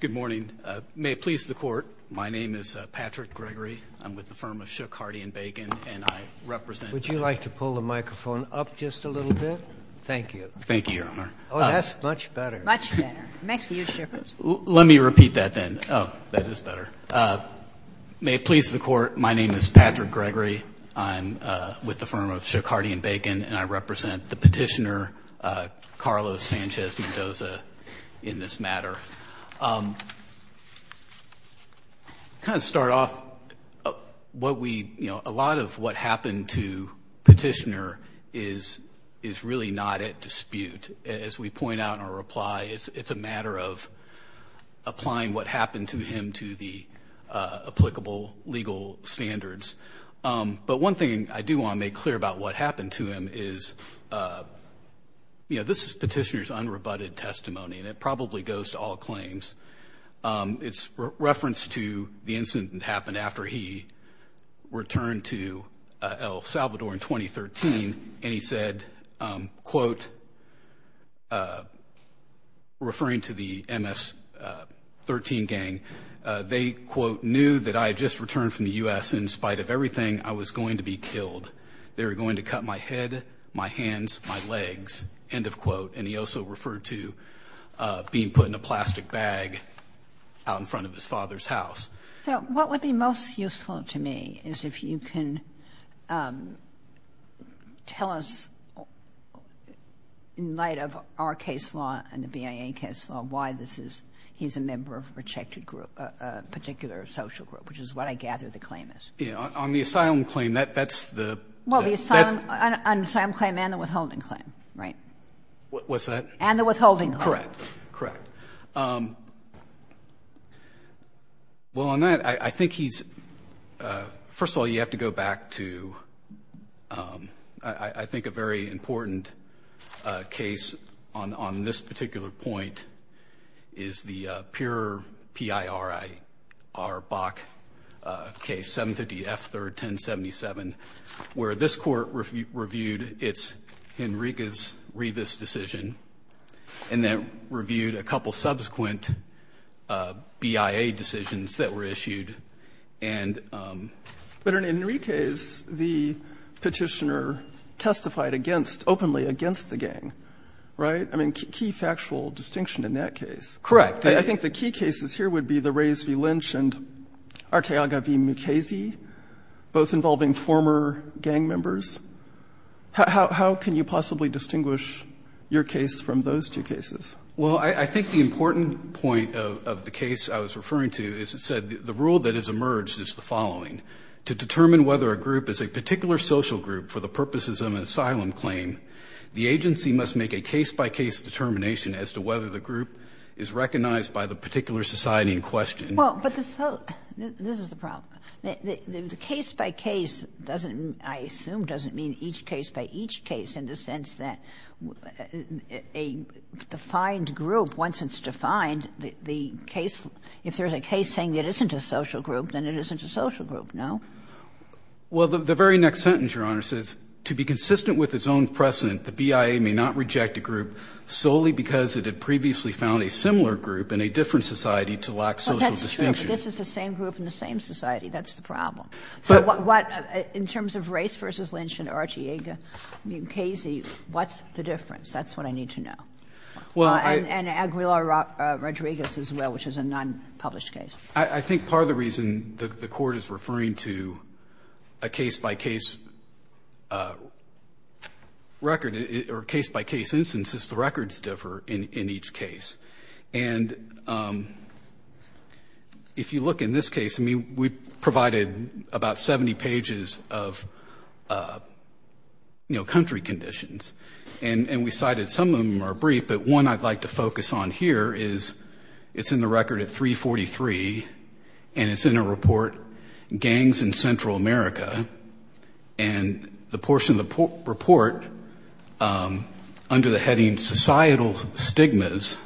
Good morning. May it please the Court, my name is Patrick Gregory. I'm with the firm of Shook, Hardy & Bacon, and I represent the Petitioner, Carlos Sanchez-Mendoza, in this matter. Kind of start off, what we, you know, a lot of what happened to Petitioner is really not at dispute. As we point out in our reply, it's a matter of applying what happened to him to the applicable legal standards. But one thing I do want to make clear about what happened to him is, you know, this is Petitioner's unrebutted testimony, and it probably goes to all claims. It's referenced to the incident that happened after he returned to El Salvador in 2013, and he said, quote, referring to the MS-13 gang, they, quote, knew that I had just returned from the U.S. In spite of everything, I was going to be killed. They were going to cut my head, my hands, my legs, end of quote. And he also referred to being put in a plastic bag out in front of his father's house. So what would be most useful to me is if you can tell us, in light of our case law and the BIA case law, why this is he's a member of a protected group, a particular social group, which is what I gather the claim is. Yeah. On the asylum claim, that's the... Well, the asylum claim and the withholding claim, right? What's that? And the withholding claim. Correct. Correct. Well, on that, I think he's... First of all, you have to go back to, I think, a very important case on this particular point is the PIRBAC case, 750 F. 3rd, 1077, where this Court reviewed its Henriquez-Rivas decision and then reviewed a couple subsequent BIA decisions that were issued and... But in Henriquez, the Petitioner testified against, openly against the gang, right? I mean, key factual distinction in that case. Correct. I think the key cases here would be the Reyes v. Lynch and Arteaga v. Mukasey, both involving former gang members. How can you possibly distinguish your case from those two cases? Well, I think the important point of the case I was referring to is it said the rule that has emerged is the following. To determine whether a group is a particular social group for the purposes of an asylum claim, the agency must make a case-by-case determination as to whether the group is recognized by the particular society in question. Well, but this is the problem. The case-by-case doesn't, I assume, doesn't mean each case-by-each case in the sense that a defined group, once it's defined, the case, if there's a case saying it isn't a social group, then it isn't a social group, no? Well, the very next sentence, Your Honor, says, to be consistent with its own precedent, the BIA may not reject a group solely because it had previously found a similar group in a different society to lack social distinction. Well, that's true. But this is the same group in the same society. That's the problem. So what, in terms of Reyes v. Lynch and Arteaga v. Mukasey, what's the difference? That's what I need to know. And Aguilar-Rodriguez as well, which is a nonpublished case. I think part of the reason the Court is referring to a case-by-case record or case-by-case instance is the records differ in each case. And if you look in this case, I mean, we provided about 70 pages of, you know, country conditions, and we cited some of them are brief, but one I'd like to focus on here is it's in the record at 343, and it's in a report, Gangs in Central America. And the portion of the report under the heading Societal Stigmas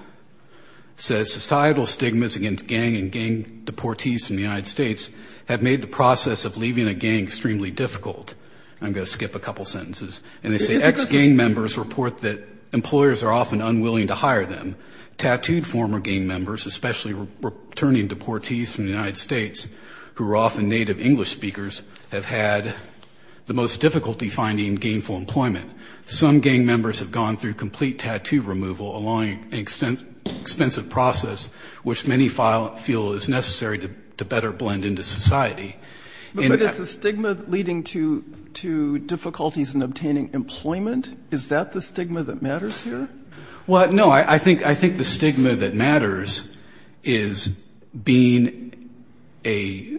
says, Societal stigmas against gang and gang deportees in the United States have made the process of leaving a gang extremely difficult. I'm going to skip a couple sentences. And they say, Ex-gang members report that employers are often unwilling to hire them. Tattooed former gang members, especially returning deportees from the United States, who are often native English speakers, have had the most difficulty finding gainful employment. Some gang members have gone through complete tattoo removal, a long and expensive process, which many feel is necessary to better blend into society. But is the stigma leading to difficulties in obtaining employment, is that the stigma that matters here? Well, no, I think the stigma that matters is being a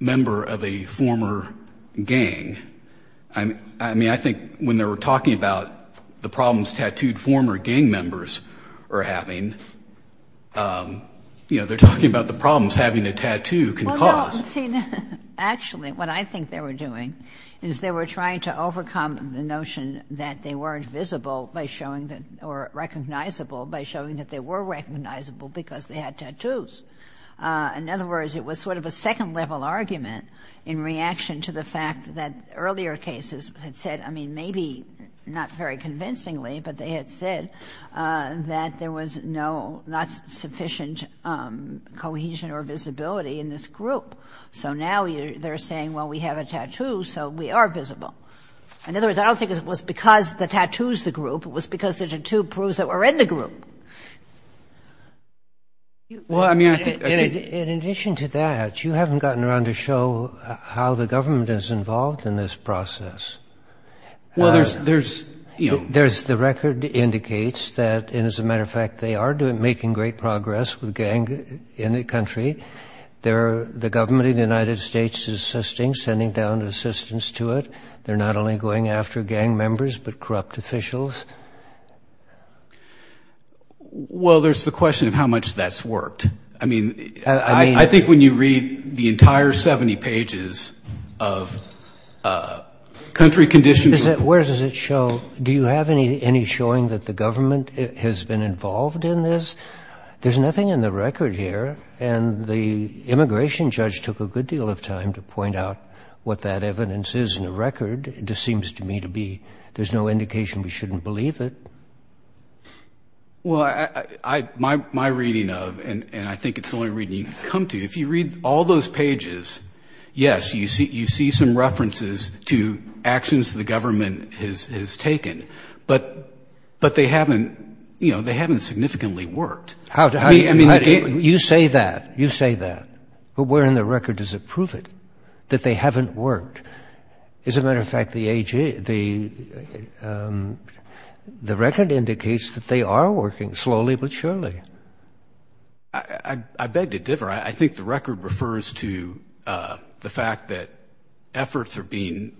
member of a former gang. I mean, I think when they were talking about the problems tattooed former gang members are having, you know, they're talking about the problems having a tattoo can cause. Actually, what I think they were doing is they were trying to overcome the notion that they weren't visible by showing that or recognizable by showing that they were recognizable because they had tattoos. In other words, it was sort of a second-level argument in reaction to the fact that earlier cases had said, I mean, maybe not very convincingly, but they had said that there was no, not sufficient cohesion or visibility in this group. So now they're saying, well, we have a tattoo, so we are visible. In other words, I don't think it was because the tattoo is the group. It was because the tattoo proves that we're in the group. In addition to that, you haven't gotten around to show how the government is involved in this process. Well, there's, you know. The record indicates that, and as a matter of fact, they are making great progress with gang in the country. The government of the United States is assisting, sending down assistance to it. They're not only going after gang members but corrupt officials. Well, there's the question of how much that's worked. I mean, I think when you read the entire 70 pages of country conditions. Where does it show? Do you have any showing that the government has been involved in this? There's nothing in the record here, and the immigration judge took a good deal of time to point out what that evidence is in the record. It just seems to me to be there's no indication we shouldn't believe it. Well, my reading of, and I think it's the only reading you can come to. If you read all those pages, yes, you see some references to actions the government has taken, but they haven't significantly worked. You say that. You say that. But where in the record does it prove it, that they haven't worked? As a matter of fact, the record indicates that they are working slowly but surely. I beg to differ. I think the record refers to the fact that efforts are being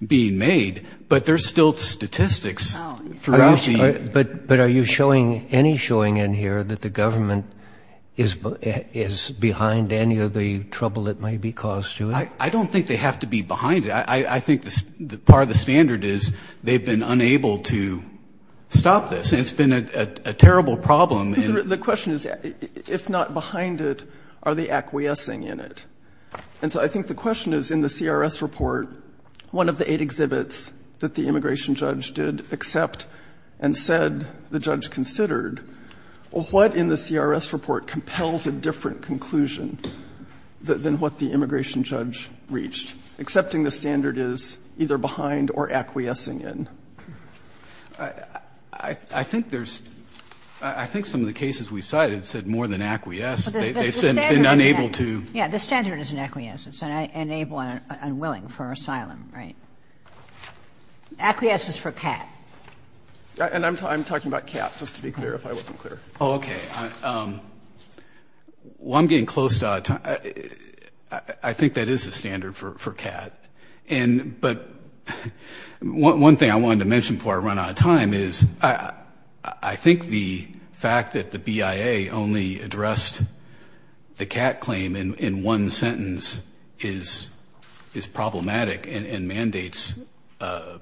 made, but there's still statistics throughout the... But are you showing any showing in here that the government is behind any of the trouble that may be caused to it? I don't think they have to be behind it. I think part of the standard is they've been unable to stop this, and it's been a terrible problem. The question is, if not behind it, are they acquiescing in it? And so I think the question is, in the CRS report, one of the eight exhibits that the immigration judge did accept and said the judge considered, what in the CRS report compels a different conclusion than what the immigration judge reached, accepting the standard is either behind or acquiescing in? I think there's – I think some of the cases we cited said more than acquiesce. They've been unable to. Yeah, the standard is in acquiescence, and unable and unwilling for asylum, right? Acquiescence for CAT. And I'm talking about CAT, just to be clear, if I wasn't clear. Oh, okay. Well, I'm getting close to out of time. I think that is the standard for CAT. And but one thing I wanted to mention before I run out of time is I think the fact that the BIA only addressed the CAT claim in one sentence is problematic and mandates at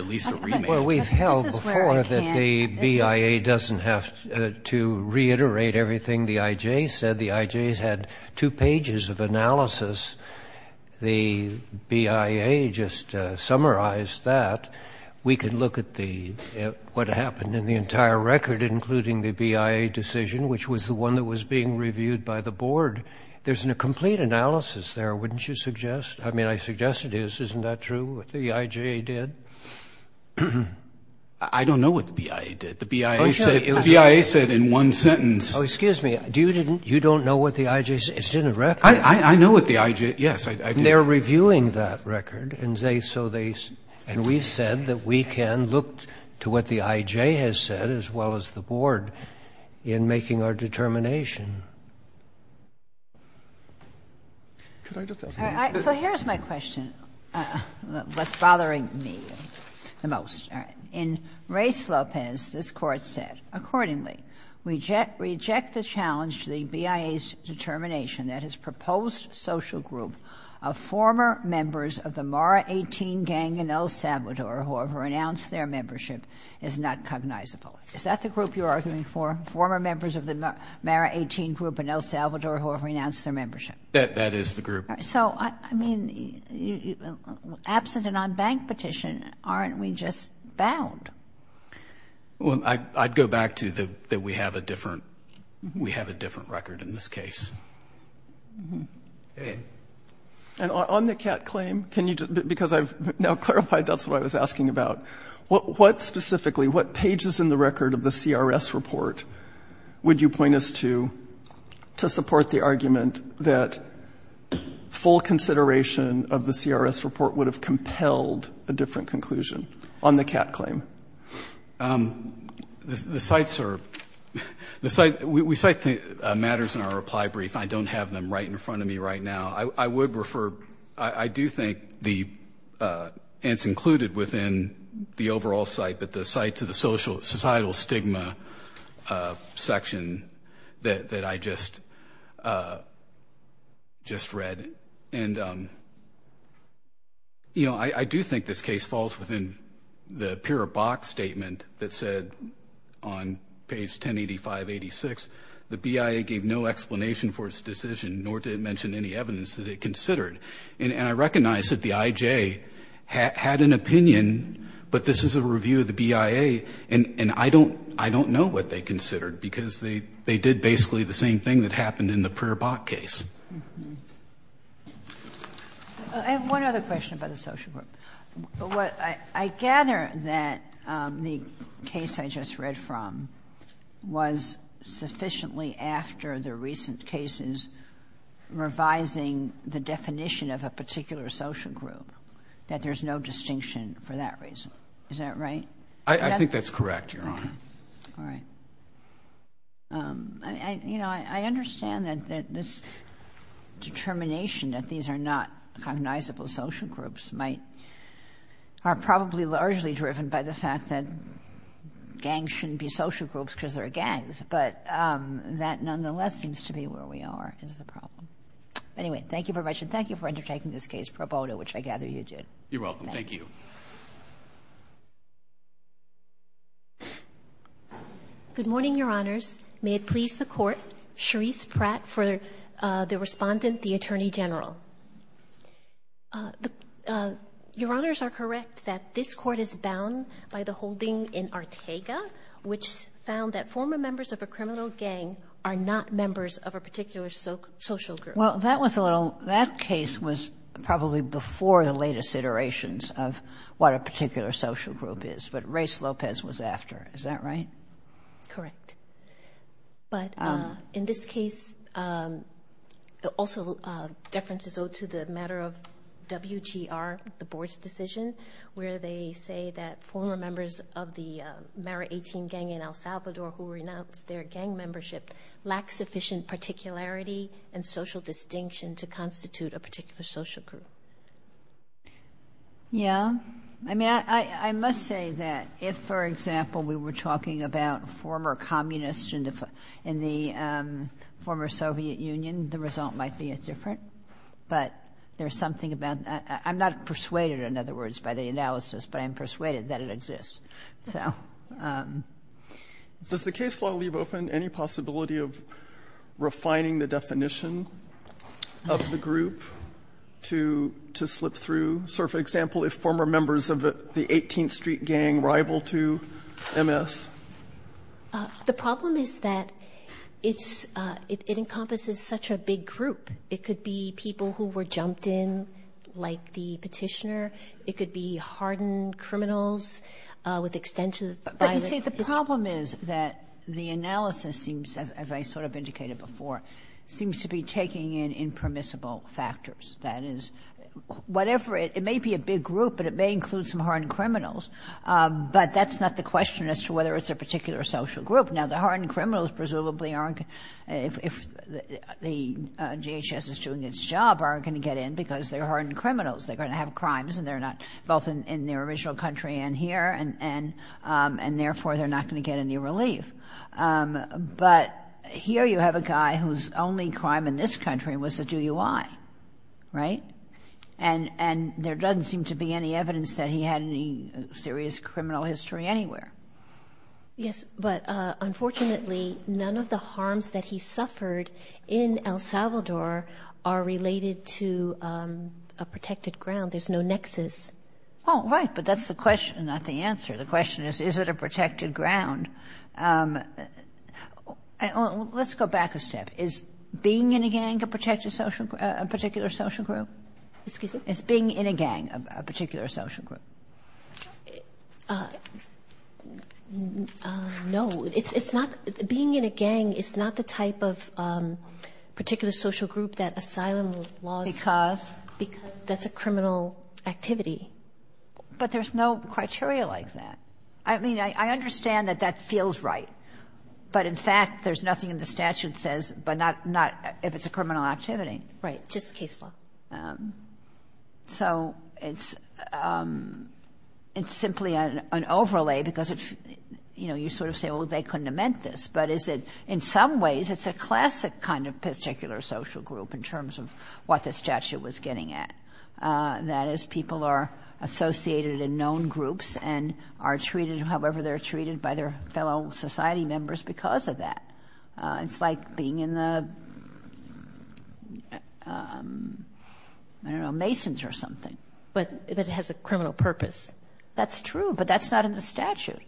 least a remake. Well, we've held before that the BIA doesn't have to reiterate everything the IJ said. The IJs had two pages of analysis. The BIA just summarized that. We could look at what happened in the entire record, including the BIA decision, which was the one that was being reviewed by the board. There's a complete analysis there, wouldn't you suggest? I mean, I suggest it is. Isn't that true, what the IJ did? I don't know what the BIA did. The BIA said in one sentence. Oh, excuse me. You don't know what the IJ said? It's in the record. I know what the IJ – yes, I do. And they're reviewing that record. And so they – and we said that we can look to what the IJ has said as well as the board in making our determination. So here's my question, what's bothering me the most. In Reyes-Lopez, this Court said, Accordingly, we reject the challenge to the BIA's determination that his proposed social group of former members of the Mara 18 gang in El Salvador, who have renounced their membership, is not cognizable. Is that the group you're arguing for, former members of the Mara 18 group in El Salvador who have renounced their membership? That is the group. So, I mean, absent an unbanked petition, aren't we just bound? Well, I'd go back to that we have a different record in this case. And on the CAT claim, can you – because I've now clarified that's what I was asking about. What specifically, what pages in the record of the CRS report would you point us to, to support the argument that full consideration of the CRS report would have compelled a different conclusion on the CAT claim? The sites are – we cite matters in our reply brief. I don't have them right in front of me right now. I would refer – I do think the – and it's included within the overall site, but the site to the societal stigma section that I just read. And, you know, I do think this case falls within the Pura Bach statement that said, on page 1085-86, the BIA gave no explanation for its decision, nor did it mention any evidence that it considered. And I recognize that the IJ had an opinion, but this is a review of the BIA, and I don't know what they considered, because they did basically the same thing that happened in the Pura Bach case. I have one other question about the social group. I gather that the case I just read from was sufficiently after the recent cases revising the definition of a particular social group, that there's no distinction for that reason. Is that right? I think that's correct, Your Honor. All right. You know, I understand that this determination that these are not cognizable social groups might – are probably largely driven by the fact that gangs shouldn't be social groups because they're gangs, but that nonetheless seems to be where we are as a problem. Anyway, thank you very much, and thank you for undertaking this case, Pro Boto, which I gather you did. You're welcome. Thank you. Good morning, Your Honors. May it please the Court, Charisse Pratt for the respondent, the Attorney General. Your Honors are correct that this Court is bound by the holding in Arteaga, which found that former members of a criminal gang are not members of a particular social group. Well, that was a little – that case was probably before the latest iterations of what a particular social group is, but Reyes-Lopez was after. Is that right? Correct. But in this case, also deference is owed to the matter of WGR, the Board's decision, where they say that former members of the Mara 18 gang in El Salvador who renounced their gang membership lack sufficient particularity and social distinction to constitute a particular social group. Yeah. I mean, I must say that if, for example, we were talking about former communists in the former Soviet Union, the result might be different, but there's something about that. I'm not persuaded, in other words, by the analysis, but I'm persuaded that it exists. So. Does the case law leave open any possibility of refining the definition of the group to slip through? So, for example, if former members of the 18th Street gang rival to MS? The problem is that it's – it encompasses such a big group. It could be people who were jumped in, like the Petitioner. It could be hardened criminals with extensive violent history. But, you see, the problem is that the analysis seems, as I sort of indicated before, seems to be taking in impermissible factors. That is, whatever – it may be a big group, but it may include some hardened criminals. But that's not the question as to whether it's a particular social group. Now, the hardened criminals presumably aren't – if the GHS is doing its job, aren't going to get in because they're hardened criminals. They're going to have crimes, and they're not – both in their original country and here, and therefore they're not going to get any relief. But here you have a guy whose only crime in this country was to do UI, right? And there doesn't seem to be any evidence that he had any serious criminal history anywhere. Yes, but unfortunately, none of the harms that he suffered in El Salvador are related to a protected ground. There's no nexus. Oh, right, but that's the question, not the answer. The question is, is it a protected ground? Let's go back a step. Is being in a gang a protected social – a particular social group? Excuse me? Is being in a gang a particular social group? No. It's not – being in a gang is not the type of particular social group that asylum laws – Because? Because that's a criminal activity. But there's no criteria like that. I mean, I understand that that feels right. But in fact, there's nothing in the statute that says – but not if it's a criminal activity. Right, just case law. So it's simply an overlay because it's – you know, you sort of say, well, they couldn't have meant this. But is it – in some ways, it's a classic kind of particular social group in terms of what the statute was getting at. That is, people are associated in known groups and are treated however they're treated by their fellow society members because of that. It's like being in the, I don't know, Masons or something. But it has a criminal purpose. That's true, but that's not in the statute,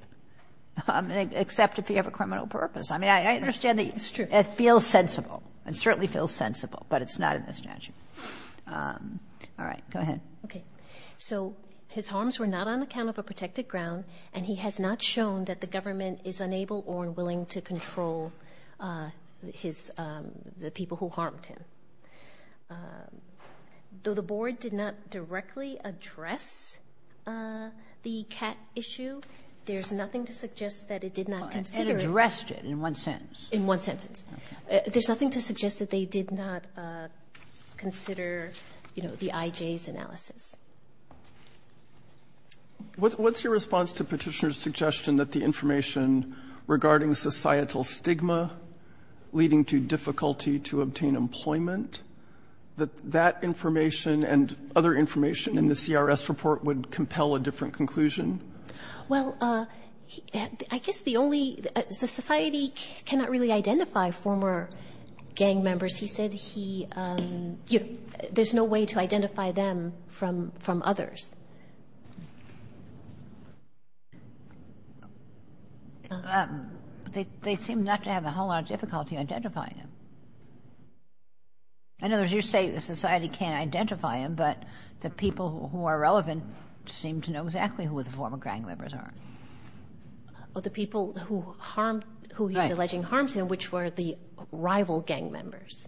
except if you have a criminal purpose. I mean, I understand that it feels sensible. It certainly feels sensible, but it's not in the statute. All right, go ahead. Okay. So his harms were not on account of a protected ground, and he has not shown that the government is unable or unwilling to control his – the people who harmed him. Though the Board did not directly address the CAT issue, there's nothing to suggest that it did not consider it. It addressed it in one sentence. In one sentence. There's nothing to suggest that they did not consider, you know, the IJ's analysis. What's your response to Petitioner's suggestion that the information regarding societal stigma leading to difficulty to obtain employment, that that information and other information in the CRS report would compel a different conclusion? Well, I guess the only – the society cannot really identify former gang members. He said he – there's no way to identify them from others. They seem not to have a whole lot of difficulty identifying them. In other words, you're saying the society can't identify them, but the people who are relevant seem to know exactly who the former gang members are. Well, the people who harm – who he's alleging harms him, which were the rival gang members.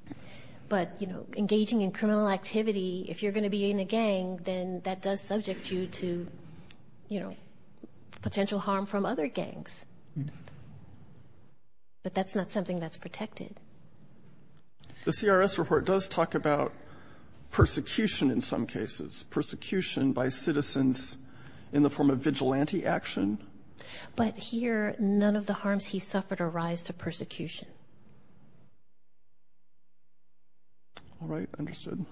But, you know, engaging in criminal activity, if you're going to be in a gang, then that does subject you to, you know, potential harm from other gangs. But that's not something that's protected. The CRS report does talk about persecution in some cases, persecution by citizens in the form of vigilante action. But here, none of the harms he suffered arise to persecution. All right, understood.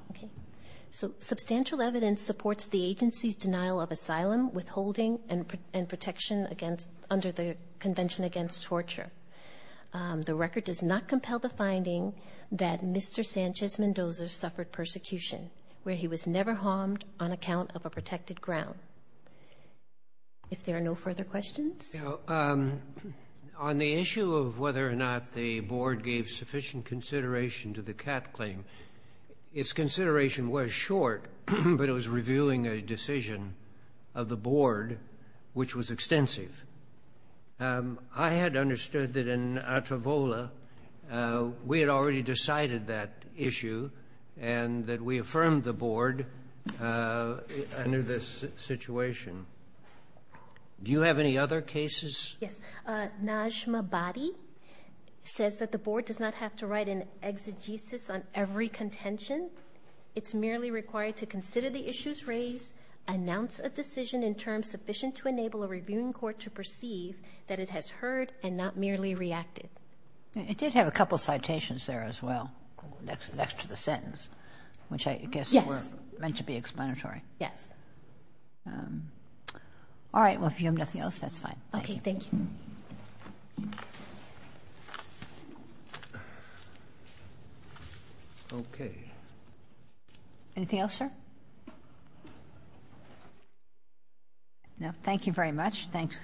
So substantial evidence supports the agency's denial of asylum, withholding, and protection against – under the Convention Against Torture. The record does not compel the finding that Mr. Sanchez-Mendoza suffered persecution, where he was never harmed on account of a protected ground. If there are no further questions? On the issue of whether or not the board gave sufficient consideration to the CAT claim, its consideration was short, but it was revealing a decision of the board which was extensive. I had understood that in Atavola we had already decided that issue and that we affirmed the board under this situation. Do you have any other cases? Yes. Najma Badi says that the board does not have to write an exegesis on every contention. It's merely required to consider the issues raised, announce a decision in terms sufficient to enable a reviewing court to perceive that it has heard and not merely reacted. It did have a couple of citations there as well, next to the sentence, which I guess were meant to be explanatory. Yes. All right, well, if you have nothing else, that's fine. Okay, thank you. Okay. Anything else, sir? No. Thank you very much. Thanks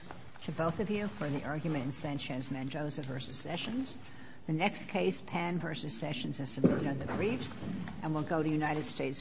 to both of you for the argument in Sanchez-Mendoza v. Sessions. The next case, Pan v. Sessions, is submitted under the briefs and will go to United States v. King.